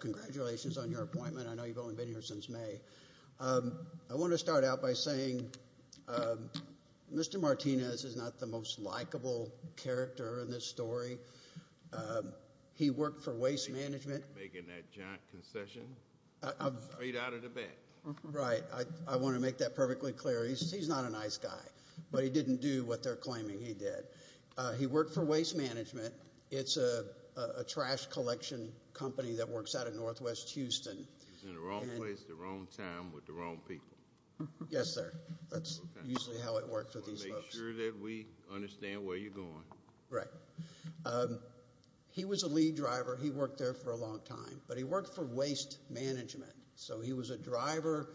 Congratulations on your appointment. I know you've only been here since May. I want to start out by saying Mr. Martinez is not the most likable character in this story. He worked for Waste Management. Are you making that giant concession? Are you out of the bank? Right. I want to make that perfectly clear. He's not a nice guy, but he didn't do what they're claiming he did. He worked for Waste Management. It's a trash collection company that works out of Northwest Houston. He was in the wrong place at the wrong time with the wrong people. Yes, sir. That's usually how it works with these folks. So make sure that we understand where you're going. Right. He was a lead driver. He worked there for a long time, but he worked for Waste Management. So he was a driver,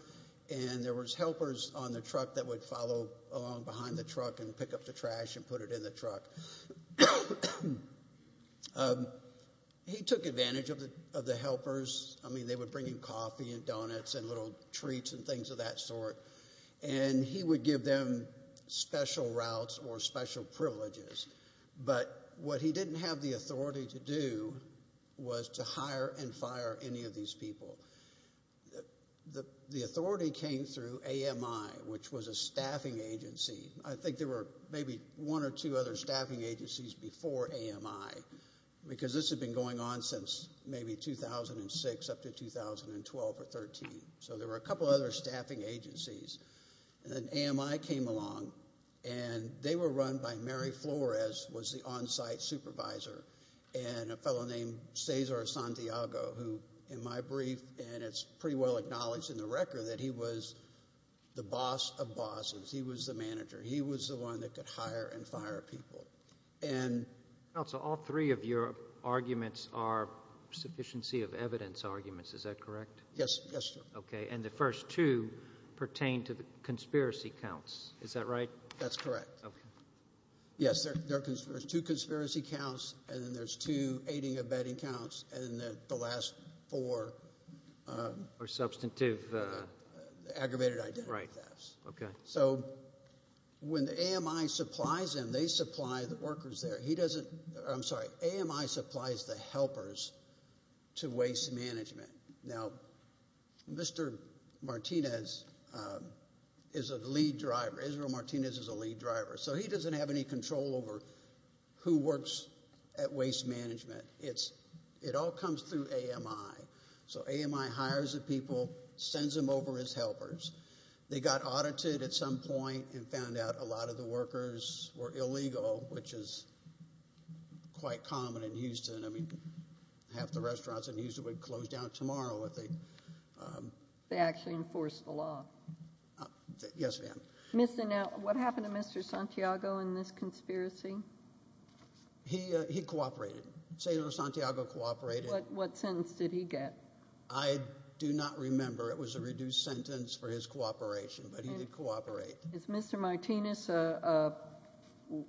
and there was helpers on the truck that would follow along behind the truck and pick up the trash and put it in the truck. He took advantage of the helpers. I mean, they would bring him coffee and donuts and little treats and things of that sort, and he would give them special routes or special privileges. But what he didn't have the authority to do was to hire and fire any of these people. The authority came through AMI, which was a staffing agency. I think there were maybe one or two other staffing agencies before AMI, because this had been going on since maybe 2006 up to 2012 or 2013. So there were a couple other staffing agencies. And then AMI came along, and they were run by Mary Flores, who was the on-site supervisor, and a fellow named Cesar Santiago, who in my brief, and it's pretty well acknowledged in the record, that he was the boss of bosses. He was the manager. He was the one that could hire and fire people. Counsel, all three of your arguments are sufficiency of evidence arguments. Is that correct? Yes, sir. Okay, and the first two pertain to the conspiracy counts. Is that right? That's correct. Okay. Yes, there's two conspiracy counts, and then there's two aiding and abetting counts, and then the last four. Or substantive. Aggravated identity thefts. Right, okay. So when AMI supplies them, they supply the workers there. He doesn't, I'm sorry, AMI supplies the helpers to waste management. Now, Mr. Martinez is a lead driver. Israel Martinez is a lead driver. So he doesn't have any control over who works at waste management. It all comes through AMI. So AMI hires the people, sends them over as helpers. They got audited at some point and found out a lot of the workers were illegal, which is quite common in Houston. I mean, half the restaurants in Houston would close down tomorrow. They actually enforced the law. Yes, ma'am. Now, what happened to Mr. Santiago in this conspiracy? He cooperated. Senator Santiago cooperated. What sentence did he get? I do not remember. It was a reduced sentence for his cooperation, but he did cooperate. Is Mr. Martinez an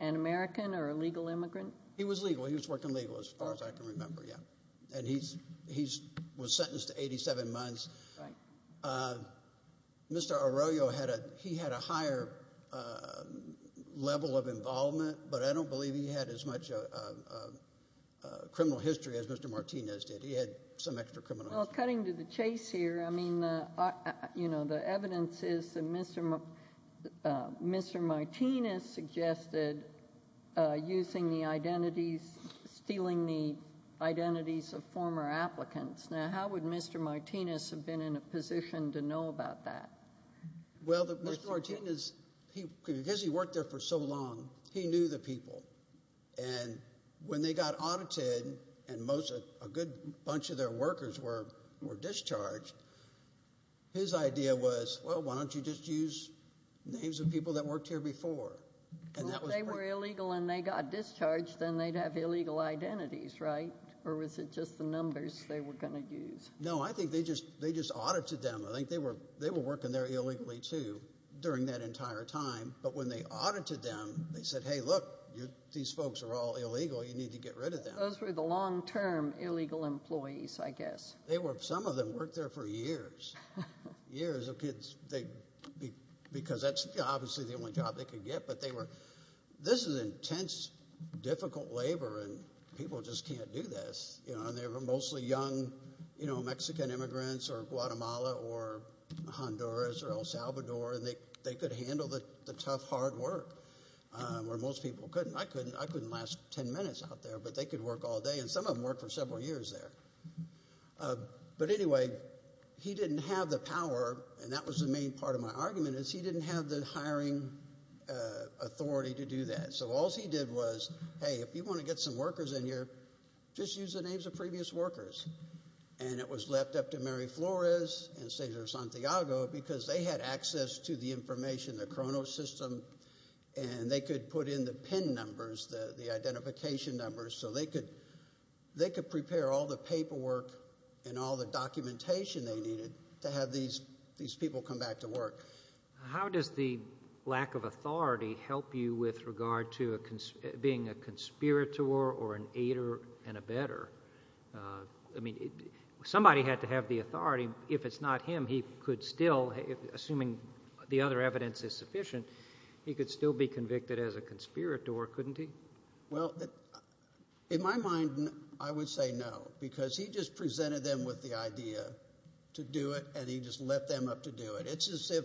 American or a legal immigrant? He was legal. He was working legal, as far as I can remember, yes. And he was sentenced to 87 months. Right. Mr. Arroyo, he had a higher level of involvement, but I don't believe he had as much criminal history as Mr. Martinez did. He had some extra criminal history. Well, cutting to the chase here, I mean, you know, the evidence is that Mr. Martinez suggested using the identities, stealing the identities of former applicants. Now, how would Mr. Martinez have been in a position to know about that? Well, Mr. Martinez, because he worked there for so long, he knew the people. And when they got audited and a good bunch of their workers were discharged, his idea was, well, why don't you just use names of people that worked here before? Well, if they were illegal and they got discharged, then they'd have illegal identities, right? Or was it just the numbers they were going to use? No, I think they just audited them. I think they were working there illegally, too, during that entire time. But when they audited them, they said, hey, look, these folks are all illegal. You need to get rid of them. Those were the long-term illegal employees, I guess. They were. Some of them worked there for years, years of kids because that's obviously the only job they could get. But they were – this is intense, difficult labor, and people just can't do this. They were mostly young Mexican immigrants or Guatemala or Honduras or El Salvador, and they could handle the tough, hard work, where most people couldn't. I couldn't last ten minutes out there, but they could work all day. And some of them worked for several years there. But anyway, he didn't have the power, and that was the main part of my argument, is he didn't have the hiring authority to do that. So all he did was, hey, if you want to get some workers in here, just use the names of previous workers. And it was left up to Mary Flores and Cesar Santiago because they had access to the information, the Cronos system, and they could put in the PIN numbers, the identification numbers, so they could prepare all the paperwork and all the documentation they needed to have these people come back to work. How does the lack of authority help you with regard to being a conspirator or an aider and a better? I mean somebody had to have the authority. If it's not him, he could still, assuming the other evidence is sufficient, he could still be convicted as a conspirator, couldn't he? Well, in my mind, I would say no because he just presented them with the idea to do it, and he just left them up to do it. It's as if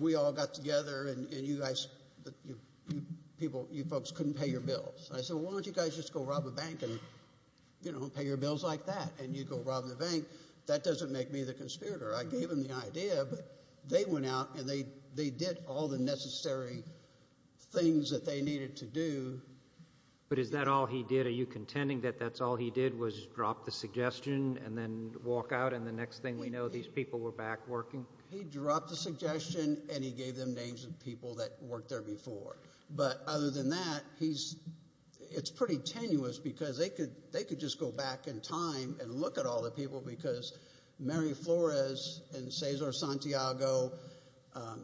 we all got together and you folks couldn't pay your bills. I said, well, why don't you guys just go rob a bank and pay your bills like that, and you go rob the bank. That doesn't make me the conspirator. I gave them the idea, but they went out and they did all the necessary things that they needed to do. But is that all he did? Are you contending that that's all he did was drop the suggestion and then walk out, and the next thing we know, these people were back working? He dropped the suggestion, and he gave them names of people that worked there before. But other than that, it's pretty tenuous because they could just go back in time and look at all the people because Mary Flores and Cesar Santiago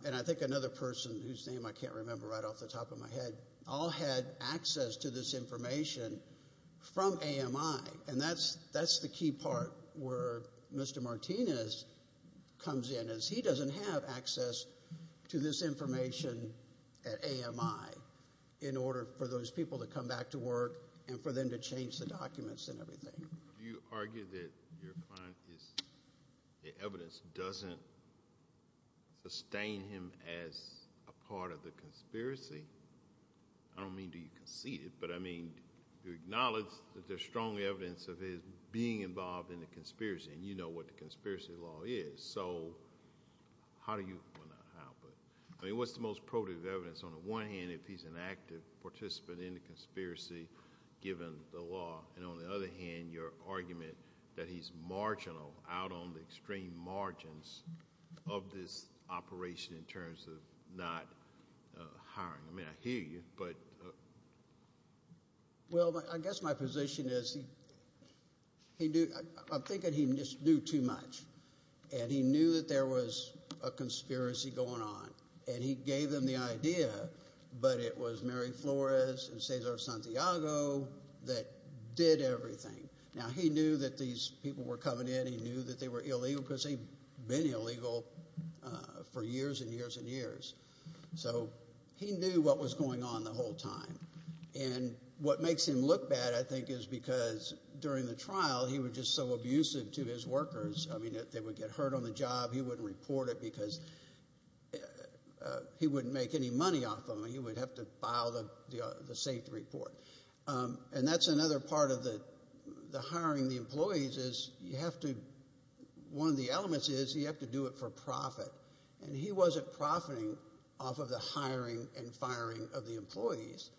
and I think another person whose name I can't remember right off the top of my head all had access to this information from AMI, and that's the key part where Mr. Martinez comes in is he doesn't have access to this information at AMI in order for those people to come back to work and for them to change the documents and everything. Do you argue that your client's evidence doesn't sustain him as a part of the conspiracy? I don't mean do you concede it, but I mean do you acknowledge that there's strong evidence of his being involved in the conspiracy and you know what the conspiracy law is? So how do you—well, not how, but what's the most probative evidence on the one hand if he's an active participant in the conspiracy given the law, and on the other hand, your argument that he's marginal out on the extreme margins of this operation in terms of not hiring? I mean, I hear you, but— Well, I guess my position is he—I'm thinking he just knew too much, and he knew that there was a conspiracy going on, and he gave them the idea, but it was Mary Flores and Cesar Santiago that did everything. Now, he knew that these people were coming in. He knew that they were illegal because they'd been illegal for years and years and years. So he knew what was going on the whole time, and what makes him look bad, I think, is because during the trial, he was just so abusive to his workers. I mean, they would get hurt on the job. He wouldn't report it because he wouldn't make any money off them, and he would have to file the safety report. And that's another part of the hiring the employees is you have to—one of the elements is you have to do it for profit, and he wasn't profiting off of the hiring and firing of the employees.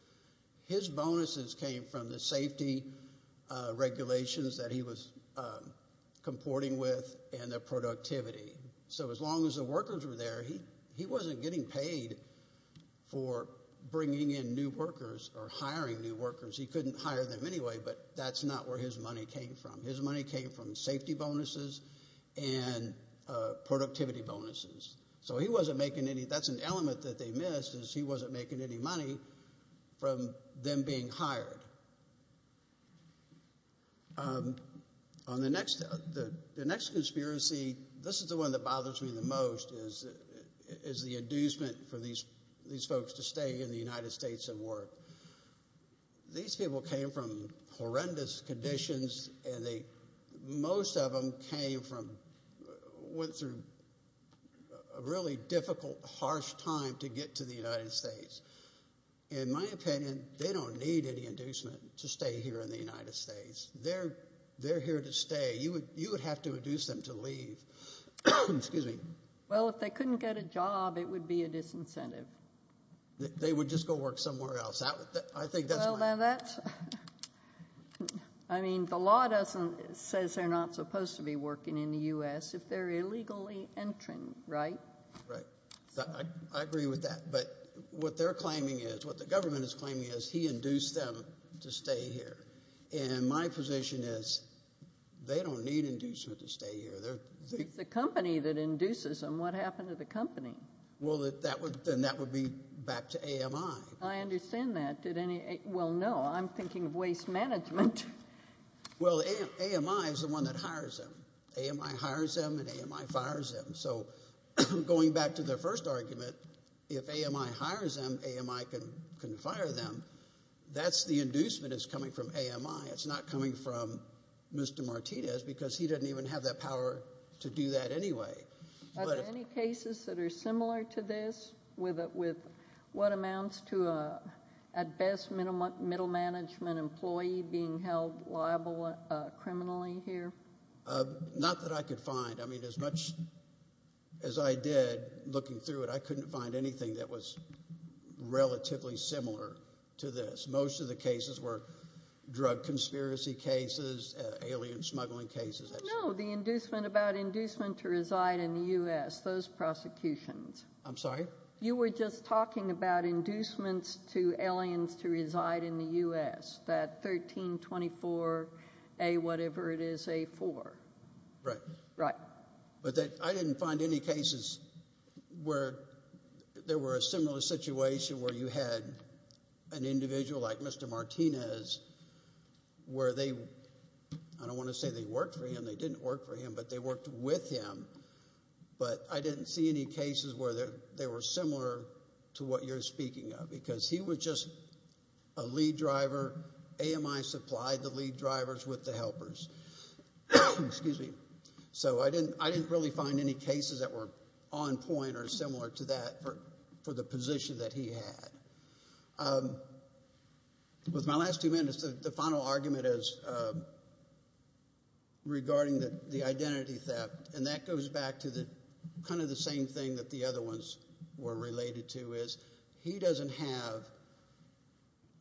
His bonuses came from the safety regulations that he was comporting with and the productivity. So as long as the workers were there, he wasn't getting paid for bringing in new workers or hiring new workers. He couldn't hire them anyway, but that's not where his money came from. His money came from safety bonuses and productivity bonuses. So he wasn't making any—that's an element that they missed is he wasn't making any money from them being hired. On the next—the next conspiracy, this is the one that bothers me the most, is the inducement for these folks to stay in the United States and work. These people came from horrendous conditions, and they—most of them came from—went through a really difficult, harsh time to get to the United States. In my opinion, they don't need any inducement to stay here in the United States. They're here to stay. You would have to induce them to leave. Well, if they couldn't get a job, it would be a disincentive. They would just go work somewhere else. I think that's— Well, now that's—I mean, the law doesn't—says they're not supposed to be working in the U.S. if they're illegally entering, right? Right. I agree with that. But what they're claiming is—what the government is claiming is he induced them to stay here. And my position is they don't need inducement to stay here. It's the company that induces them. What happened to the company? Well, that would—then that would be back to AMI. I understand that. Did any—well, no, I'm thinking of waste management. Well, AMI is the one that hires them. AMI hires them, and AMI fires them. So going back to the first argument, if AMI hires them, AMI can fire them. That's the inducement that's coming from AMI. It's not coming from Mr. Martinez because he doesn't even have that power to do that anyway. Are there any cases that are similar to this with what amounts to at best middle management employee being held liable criminally here? Not that I could find. I mean, as much as I did looking through it, I couldn't find anything that was relatively similar to this. Most of the cases were drug conspiracy cases, alien smuggling cases. No, the inducement about inducement to reside in the U.S., those prosecutions. I'm sorry? You were just talking about inducements to aliens to reside in the U.S., that 1324A whatever it is, A4. Right. Right. But I didn't find any cases where there were a similar situation where you had an individual like Mr. Martinez where they, I don't want to say they worked for him. They didn't work for him, but they worked with him. But I didn't see any cases where they were similar to what you're speaking of because he was just a lead driver. AMI supplied the lead drivers with the helpers. Excuse me. So I didn't really find any cases that were on point or similar to that for the position that he had. With my last two minutes, the final argument is regarding the identity theft, and that goes back to kind of the same thing that the other ones were related to is he doesn't have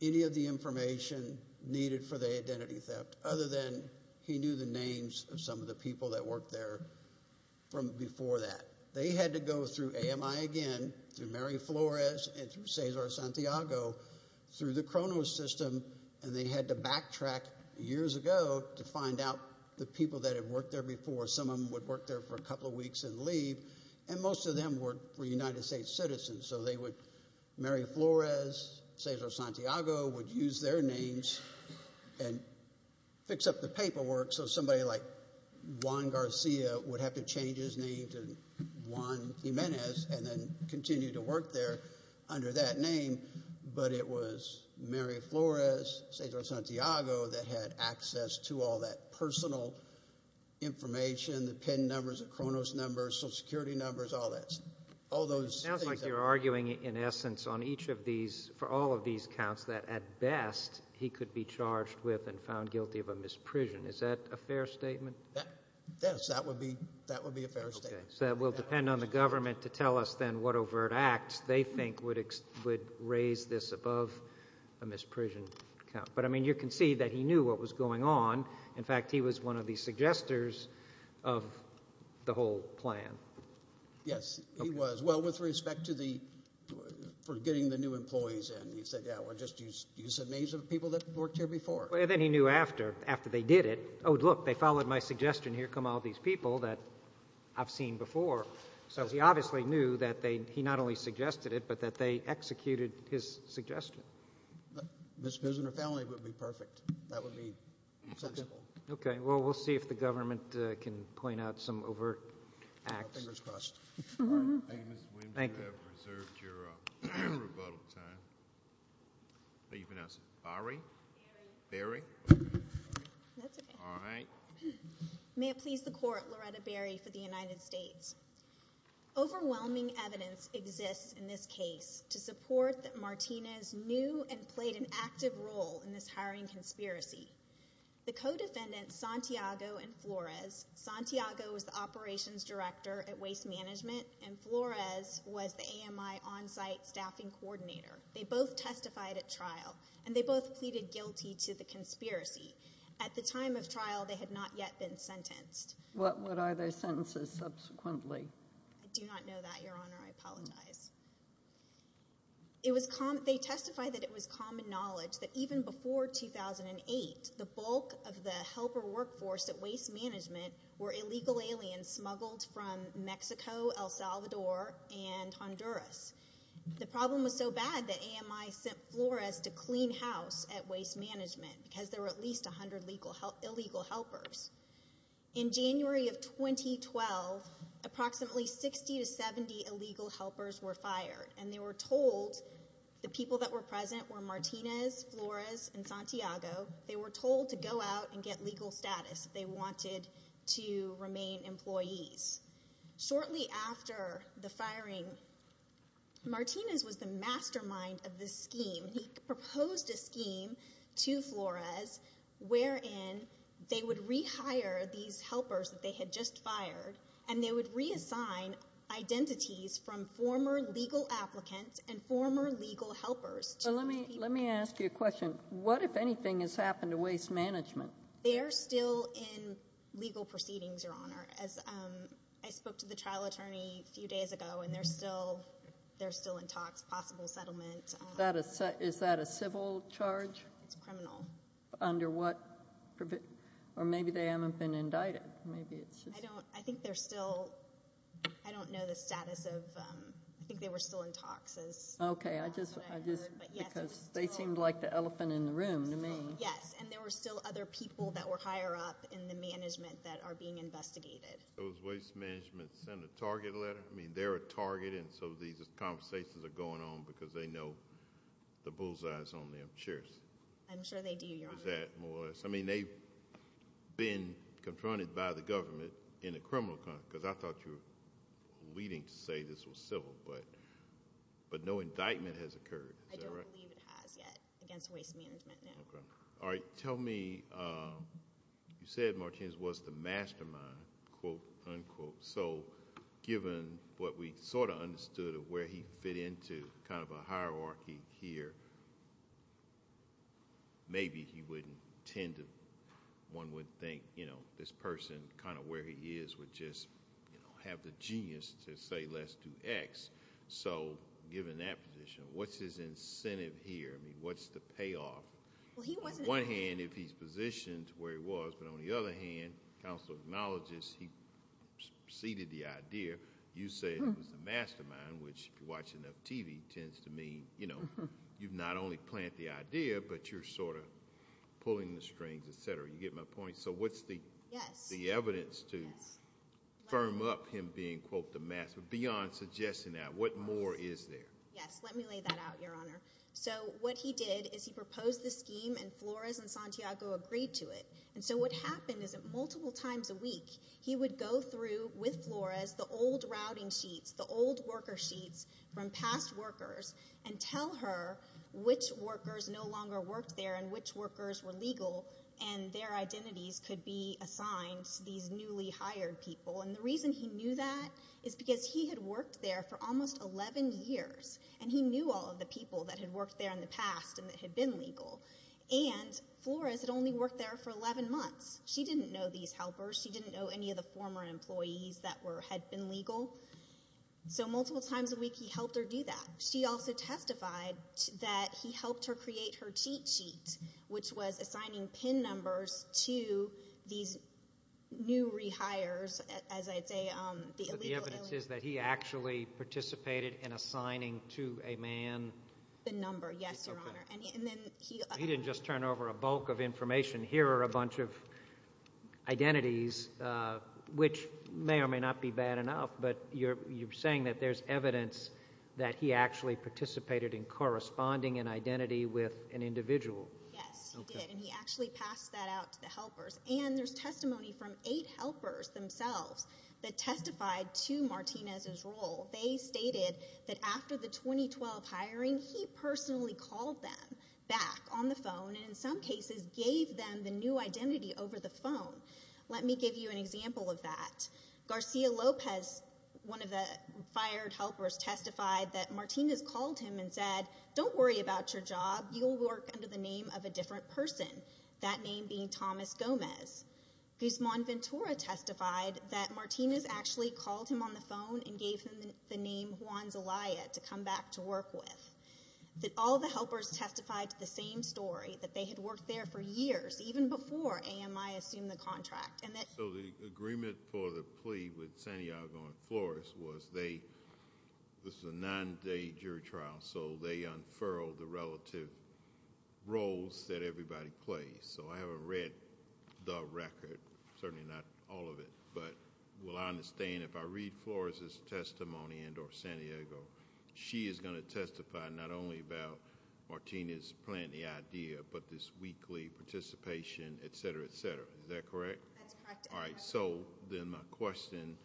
any of the information needed for the identity theft other than he knew the names of some of the people that worked there from before that. They had to go through AMI again, through Mary Flores and through Cesar Santiago, through the Cronos system, and they had to backtrack years ago to find out the people that had worked there before. Some of them would work there for a couple of weeks and leave, and most of them were United States citizens, so Mary Flores, Cesar Santiago would use their names and fix up the paperwork so somebody like Juan Garcia would have to change his name to Juan Jimenez and then continue to work there under that name. But it was Mary Flores, Cesar Santiago that had access to all that personal information, the PIN numbers, the Cronos numbers, Social Security numbers, all those things. So you're arguing in essence on each of these, for all of these counts, that at best he could be charged with and found guilty of a misprision. Is that a fair statement? Yes, that would be a fair statement. Okay, so it will depend on the government to tell us then what overt acts they think would raise this above a misprision count. But, I mean, you can see that he knew what was going on. In fact, he was one of the suggesters of the whole plan. Yes, he was. Well, with respect to getting the new employees in, he said, yeah, well, just use the names of people that worked here before. Then he knew after, after they did it, oh, look, they followed my suggestion, here come all these people that I've seen before. So he obviously knew that he not only suggested it but that they executed his suggestion. A misprision or felony would be perfect. That would be sensible. Okay, well, we'll see if the government can point out some overt acts. Fingers crossed. All right. Thank you, Mr. Williams. You have reserved your rebuttal time. Are you going to ask Barry? Barry. Barry. That's okay. All right. May it please the Court, Loretta Barry for the United States. Overwhelming evidence exists in this case to support that Martinez knew and played an active role in this hiring conspiracy. The co-defendants, Santiago and Flores, Santiago was the operations director at waste management, and Flores was the AMI on-site staffing coordinator. They both testified at trial, and they both pleaded guilty to the conspiracy. At the time of trial, they had not yet been sentenced. What are their sentences subsequently? I do not know that, Your Honor. I apologize. They testified that it was common knowledge that even before 2008, the bulk of the helper workforce at waste management were illegal aliens smuggled from Mexico, El Salvador, and Honduras. The problem was so bad that AMI sent Flores to clean house at waste management because there were at least 100 illegal helpers. In January of 2012, approximately 60 to 70 illegal helpers were fired, and they were told the people that were present were Martinez, Flores, and Santiago. They were told to go out and get legal status if they wanted to remain employees. Shortly after the firing, Martinez was the mastermind of this scheme. He proposed a scheme to Flores wherein they would rehire these helpers that they had just fired, and they would reassign identities from former legal applicants and former legal helpers. Let me ask you a question. What, if anything, has happened to waste management? They're still in legal proceedings, Your Honor. I spoke to the trial attorney a few days ago, and they're still in talks, possible settlement. Is that a civil charge? It's criminal. Under what provision? Or maybe they haven't been indicted. I think they're still—I don't know the status of—I think they were still in talks. Okay, I just—because they seemed like the elephant in the room to me. Yes, and there were still other people that were higher up in the management that are being investigated. Was waste management sent a target letter? I mean, they're a target, and so these conversations are going on because they know the bullseyes on them. I'm sure they do, Your Honor. I mean, they've been confronted by the government in a criminal context, because I thought you were leading to say this was civil, but no indictment has occurred. I don't believe it has yet against waste management, no. Okay. All right, tell me—you said Martinez was the mastermind, quote, unquote. So given what we sort of understood of where he fit into kind of a hierarchy here, maybe he wouldn't tend to—one would think, you know, this person, kind of where he is, would just have the genius to say let's do X. So given that position, what's his incentive here? I mean, what's the payoff? Well, he wasn't— On the one hand, if he's positioned to where he was, but on the other hand, counsel acknowledges he preceded the idea. You said he was the mastermind, which if you watch enough TV tends to mean, you know, you not only plant the idea, but you're sort of pulling the strings, etc. You get my point? Yes. The evidence to firm up him being, quote, the master—beyond suggesting that, what more is there? Yes. Let me lay that out, Your Honor. So what he did is he proposed this scheme, and Flores and Santiago agreed to it. And so what happened is that multiple times a week he would go through with Flores the old routing sheets, the old worker sheets from past workers, and tell her which workers no longer worked there and which workers were legal and their identities could be assigned to these newly hired people. And the reason he knew that is because he had worked there for almost 11 years, and he knew all of the people that had worked there in the past and that had been legal. And Flores had only worked there for 11 months. She didn't know these helpers. She didn't know any of the former employees that had been legal. So multiple times a week he helped her do that. She also testified that he helped her create her cheat sheet, which was assigning PIN numbers to these new rehires, as I say, the illegal aliens. But the evidence is that he actually participated in assigning to a man— The number, yes, Your Honor. And then he— He didn't just turn over a bulk of information. Here are a bunch of identities, which may or may not be bad enough, but you're saying that there's evidence that he actually participated in corresponding an identity with an individual. Yes, he did, and he actually passed that out to the helpers. And there's testimony from eight helpers themselves that testified to Martinez's role. They stated that after the 2012 hiring, he personally called them back on the phone and, in some cases, gave them the new identity over the phone. Let me give you an example of that. Garcia Lopez, one of the fired helpers, testified that Martinez called him and said, Don't worry about your job. You'll work under the name of a different person, that name being Thomas Gomez. Guzman Ventura testified that Martinez actually called him on the phone and gave him the name Juan Zelaya to come back to work with. All the helpers testified to the same story, that they had worked there for years, even before AMI assumed the contract. So the agreement for the plea with Santiago and Flores was they—this was a nine-day jury trial, so they unfurled the relative roles that everybody plays. So I haven't read the record, certainly not all of it, but will I understand if I read Flores' testimony and or Santiago, she is going to testify not only about Martinez planning the idea, but this weekly participation, et cetera, et cetera. Is that correct? That's correct, Your Honor. All right, so then my question,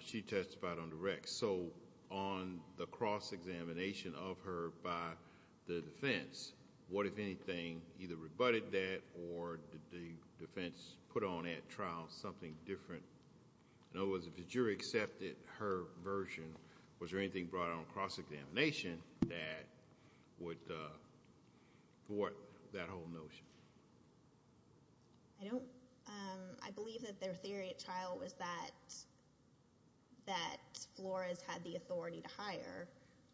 she testified on the rec. So on the cross-examination of her by the defense, what, if anything, either rebutted that or did the defense put on that trial something different? In other words, if the jury accepted her version, was there anything brought on cross-examination that would thwart that whole notion? I don't—I believe that their theory at trial was that Flores had the authority to hire.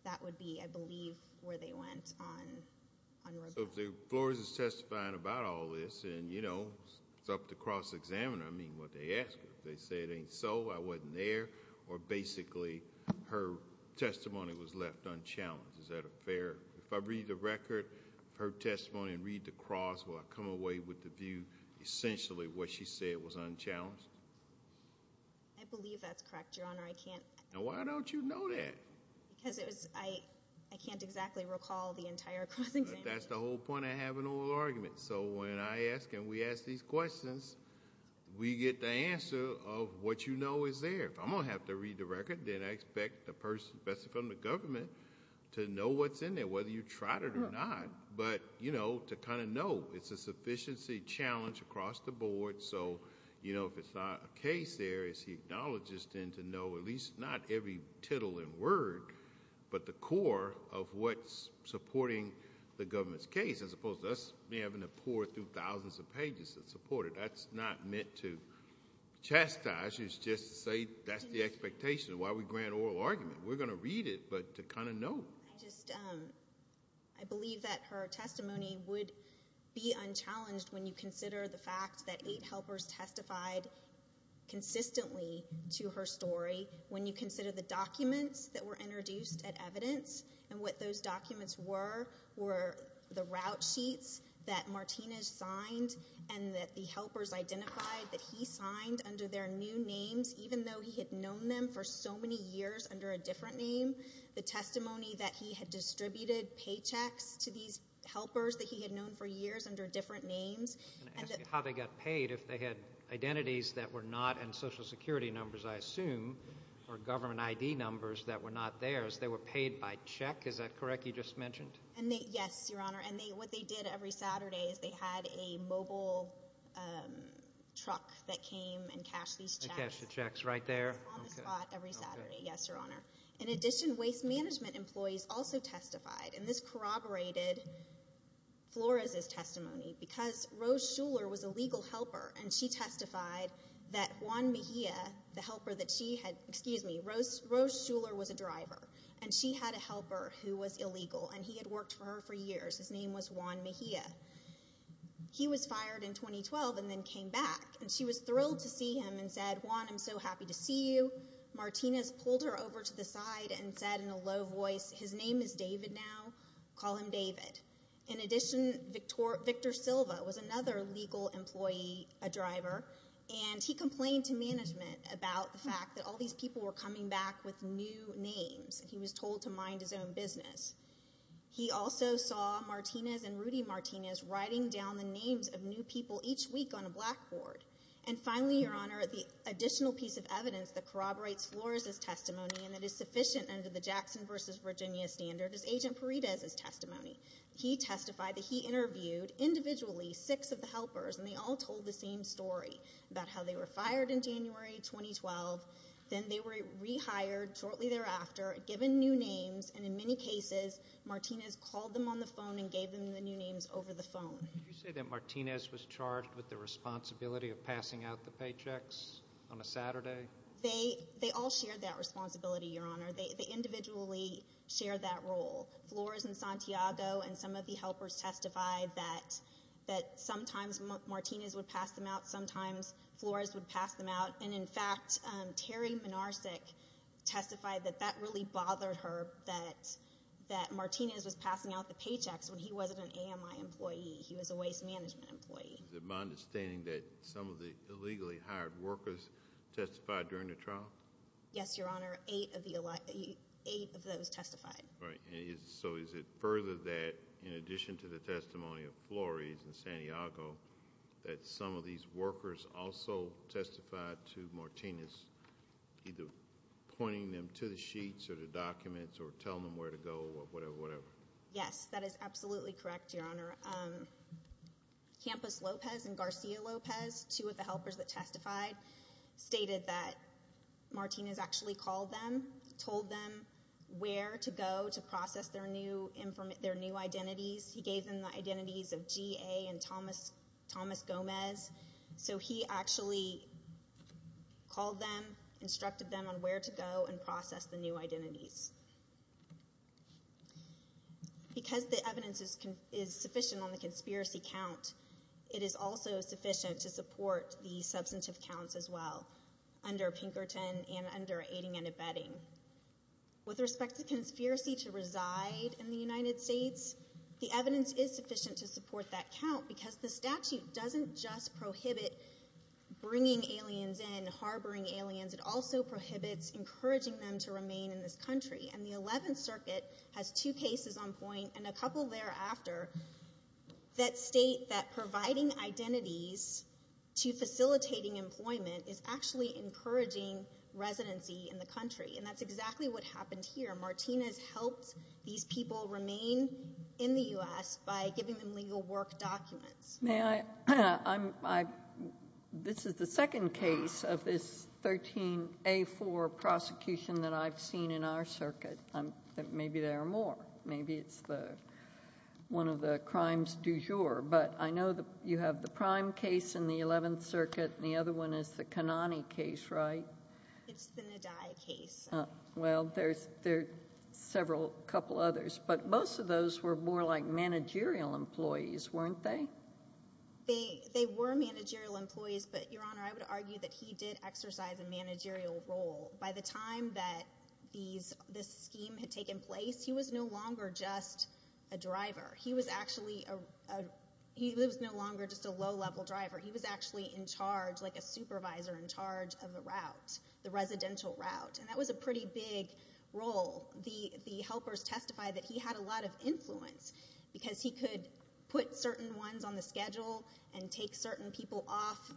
That would be, I believe, where they went on rebuttal. So if Flores is testifying about all this and, you know, it's up to cross-examiner, I mean, what they ask her. If they say it ain't so, I wasn't there, or basically her testimony was left unchallenged. Is that fair? If I read the record of her testimony and read the cross, will I come away with the view essentially what she said was unchallenged? I believe that's correct, Your Honor. I can't— Now, why don't you know that? Because it was—I can't exactly recall the entire cross-examination. That's the whole point of having oral arguments. So when I ask and we ask these questions, we get the answer of what you know is there. If I'm going to have to read the record, then I expect the person from the government to know what's in there, whether you tried it or not. But, you know, to kind of know. It's a sufficiency challenge across the board. So, you know, if it's not a case there, it's the acknowledges then to know at least not every tittle and word, but the core of what's supporting the government's case, as opposed to us having to pour through thousands of pages to support it. That's not meant to chastise. It's just to say that's the expectation of why we grant oral argument. We're going to read it, but to kind of know. I just—I believe that her testimony would be unchallenged when you consider the fact that eight helpers testified consistently to her story, when you consider the documents that were introduced at evidence, and what those documents were were the route sheets that Martinez signed and that the helpers identified that he signed under their new names, even though he had known them for so many years under a different name, the testimony that he had distributed paychecks to these helpers that he had known for years under different names. I'm going to ask you how they got paid if they had identities that were not in Social Security numbers, I assume, or government ID numbers that were not theirs. They were paid by check. Is that correct you just mentioned? Yes, Your Honor, and what they did every Saturday is they had a mobile truck that came and cashed these checks. They cashed the checks right there? On the spot every Saturday, yes, Your Honor. In addition, waste management employees also testified, and this corroborated Flores' testimony, because Rose Shuler was a legal helper, and she testified that Juan Mejia, the helper that she had, excuse me, Rose Shuler was a driver, and she had a helper who was illegal, and he had worked for her for years. His name was Juan Mejia. He was fired in 2012 and then came back, and she was thrilled to see him and said, Juan, I'm so happy to see you. Martinez pulled her over to the side and said in a low voice, his name is David now. Call him David. In addition, Victor Silva was another legal employee, a driver, and he complained to management about the fact that all these people were coming back with new names. He was told to mind his own business. He also saw Martinez and Rudy Martinez writing down the names of new people each week on a blackboard. And finally, Your Honor, the additional piece of evidence that corroborates Flores' testimony and that is sufficient under the Jackson v. Virginia standard is Agent Paredes' testimony. He testified that he interviewed individually six of the helpers, and they all told the same story about how they were fired in January 2012. Then they were rehired shortly thereafter, given new names, and in many cases Martinez called them on the phone and gave them the new names over the phone. Did you say that Martinez was charged with the responsibility of passing out the paychecks on a Saturday? They all shared that responsibility, Your Honor. They individually shared that role. Flores and Santiago and some of the helpers testified that sometimes Martinez would pass them out, sometimes Flores would pass them out. And, in fact, Terry Minarsik testified that that really bothered her, that Martinez was passing out the paychecks when he wasn't an AMI employee. He was a waste management employee. Is it my understanding that some of the illegally hired workers testified during the trial? Yes, Your Honor, eight of those testified. Right. So is it further that, in addition to the testimony of Flores and Santiago, that some of these workers also testified to Martinez, either pointing them to the sheets or the documents or telling them where to go or whatever, whatever? Yes, that is absolutely correct, Your Honor. Campos Lopez and Garcia Lopez, two of the helpers that testified, stated that Martinez actually called them, told them where to go to process their new identities. He gave them the identities of G.A. and Thomas Gomez. So he actually called them, instructed them on where to go and process the new identities. Because the evidence is sufficient on the conspiracy count, it is also sufficient to support the substantive counts as well, under Pinkerton and under aiding and abetting. With respect to conspiracy to reside in the United States, the evidence is sufficient to support that count because the statute doesn't just prohibit bringing aliens in, harboring aliens. It also prohibits encouraging them to remain in this country. And the Eleventh Circuit has two cases on point and a couple thereafter that state that providing identities to facilitating employment is actually encouraging residency in the country. And that's exactly what happened here. Martinez helped these people remain in the U.S. by giving them legal work documents. May I? This is the second case of this 13A4 prosecution that I've seen in our circuit. Maybe there are more. Maybe it's one of the crimes du jour. But I know you have the prime case in the Eleventh Circuit, and the other one is the Kanani case, right? It's the Nadia case. Well, there are several, a couple others. But most of those were more like managerial employees, weren't they? They were managerial employees. But, Your Honor, I would argue that he did exercise a managerial role. By the time that this scheme had taken place, he was no longer just a driver. He was actually a—he was no longer just a low-level driver. He was actually in charge, like a supervisor in charge of the route, the residential route. And that was a pretty big role. The helpers testified that he had a lot of influence because he could put certain ones on the schedule and take certain people off,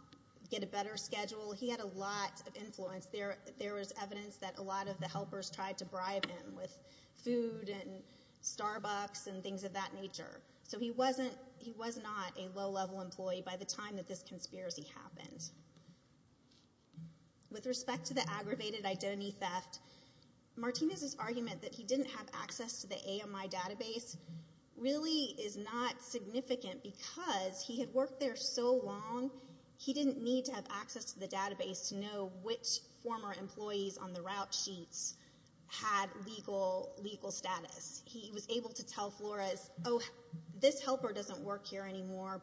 get a better schedule. He had a lot of influence. There was evidence that a lot of the helpers tried to bribe him with food and Starbucks and things of that nature. So he wasn't—he was not a low-level employee by the time that this conspiracy happened. With respect to the aggravated identity theft, Martinez's argument that he didn't have access to the AMI database really is not significant because he had worked there so long he didn't need to have access to the database to know which former employees on the route sheets had legal status. He was able to tell Flores, oh, this helper doesn't work here anymore.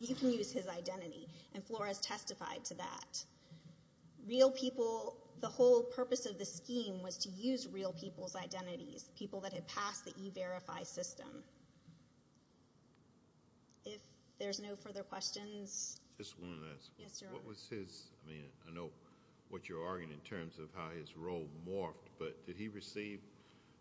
You can use his identity. And Flores testified to that. Real people—the whole purpose of the scheme was to use real people's identities, people that had passed the E-Verify system. If there's no further questions— Just one last one. Yes, Your Honor. What was his—I mean, I know what you're arguing in terms of how his role morphed, but did he receive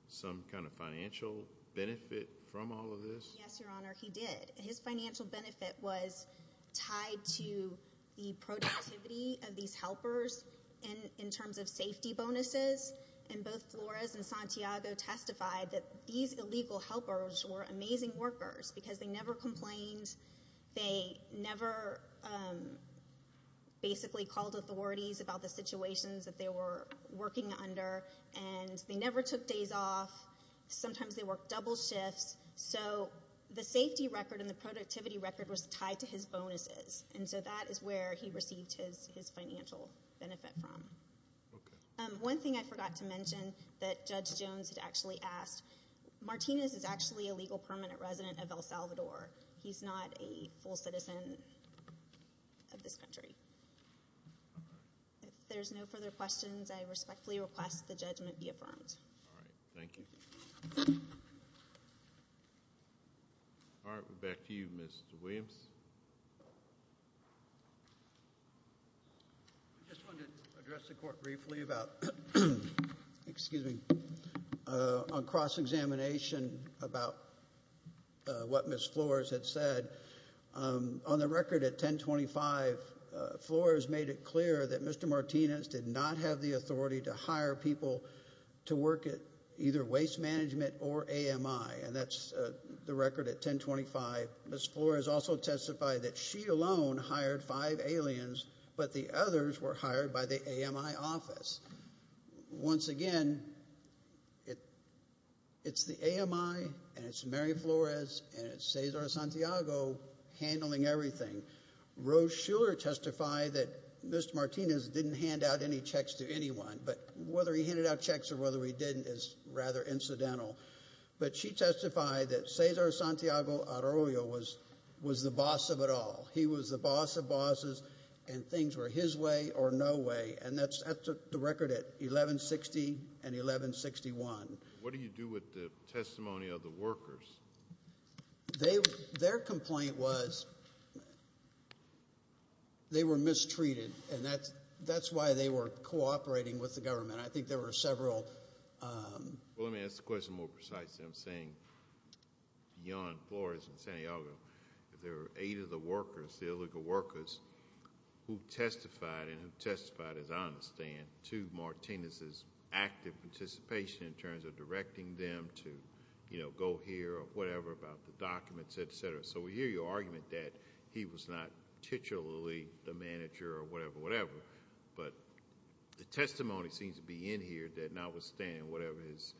some kind of financial benefit from all of this? Yes, Your Honor, he did. His financial benefit was tied to the productivity of these helpers in terms of safety bonuses, and both Flores and Santiago testified that these illegal helpers were amazing workers because they never complained. They never basically called authorities about the situations that they were working under, and they never took days off. Sometimes they worked double shifts. So the safety record and the productivity record was tied to his bonuses, and so that is where he received his financial benefit from. One thing I forgot to mention that Judge Jones had actually asked, Martinez is actually a legal permanent resident of El Salvador. He's not a full citizen of this country. If there's no further questions, I respectfully request the judgment be affirmed. All right, thank you. All right, we're back to you, Mr. Williams. I just wanted to address the Court briefly about—excuse me, on cross-examination about what Ms. Flores had said. On the record at 1025, Flores made it clear that Mr. Martinez did not have the authority to hire people to work at either Waste Management or AMI, and that's the record at 1025. Ms. Flores also testified that she alone hired five aliens, but the others were hired by the AMI office. Once again, it's the AMI and it's Mary Flores and it's Cesar Santiago handling everything. Rose Shuler testified that Mr. Martinez didn't hand out any checks to anyone, but whether he handed out checks or whether he didn't is rather incidental. But she testified that Cesar Santiago Arroyo was the boss of it all. He was the boss of bosses, and things were his way or no way, and that's the record at 1160 and 1161. What do you do with the testimony of the workers? Their complaint was they were mistreated, and that's why they were cooperating with the government. I think there were several— Well, let me ask the question more precisely. I'm saying beyond Flores and Santiago, if there were eight of the workers, the illegal workers, who testified and who testified, as I understand, to Martinez's active participation in terms of directing them to go here or whatever about the documents, et cetera. So we hear your argument that he was not titularly the manager or whatever, whatever, but the testimony seems to be in here that notwithstanding whatever his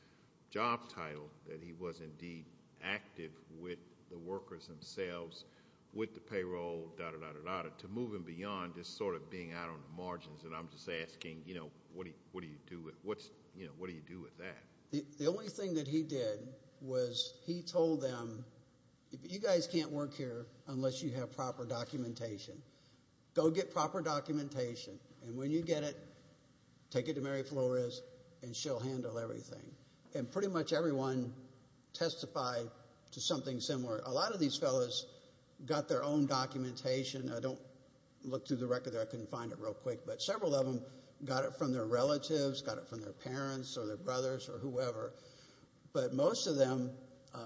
job title, that he was indeed active with the workers themselves, with the payroll, da-da-da-da-da-da, to moving beyond just sort of being out on the margins, and I'm just asking, what do you do with that? The only thing that he did was he told them, you guys can't work here unless you have proper documentation. Go get proper documentation, and when you get it, take it to Mary Flores, and she'll handle everything. And pretty much everyone testified to something similar. A lot of these fellows got their own documentation. I don't look through the record there. I couldn't find it real quick, but several of them got it from their relatives, got it from their parents or their brothers or whoever. But most of them, a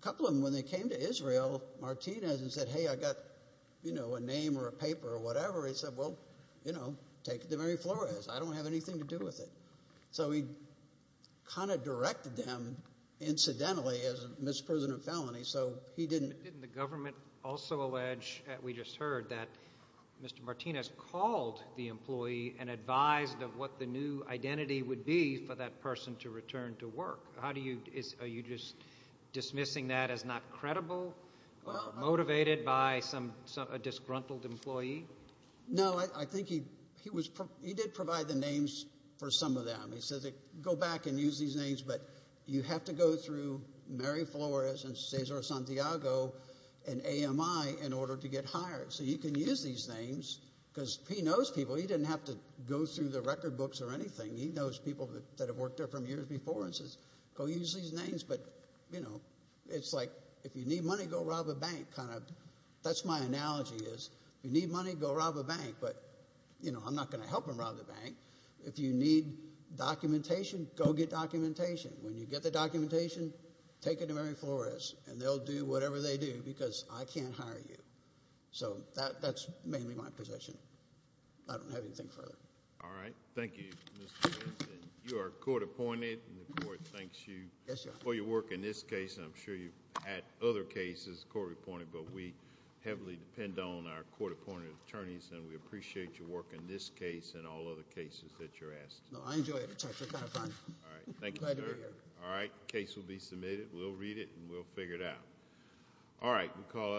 couple of them, when they came to Israel, Martinez said, hey, I've got a name or a paper or whatever. He said, well, take it to Mary Flores. I don't have anything to do with it. So he kind of directed them, incidentally, as a misprision of felony, so he didn't. Didn't the government also allege, we just heard, that Mr. Martinez called the employee and advised of what the new identity would be for that person to return to work? Are you just dismissing that as not credible, motivated by a disgruntled employee? No, I think he did provide the names for some of them. He said, go back and use these names, but you have to go through Mary Flores and Cesar Santiago and AMI in order to get hired. So you can use these names because he knows people. He didn't have to go through the record books or anything. He knows people that have worked there for years before and says, go use these names. But, you know, it's like if you need money, go rob a bank kind of. That's my analogy is, if you need money, go rob a bank. But, you know, I'm not going to help him rob the bank. If you need documentation, go get documentation. When you get the documentation, take it to Mary Flores, and they'll do whatever they do because I can't hire you. So that's mainly my position. I don't have anything further. All right. Thank you. You are court appointed, and the court thanks you for your work in this case. I'm sure you've had other cases court appointed, but we heavily depend on our court appointed attorneys, and we appreciate your work in this case and all other cases that you're asked. No, I enjoy it. It's actually kind of fun. All right. Thank you, sir. Glad to be here. All right. Case will be submitted. We'll read it, and we'll figure it out.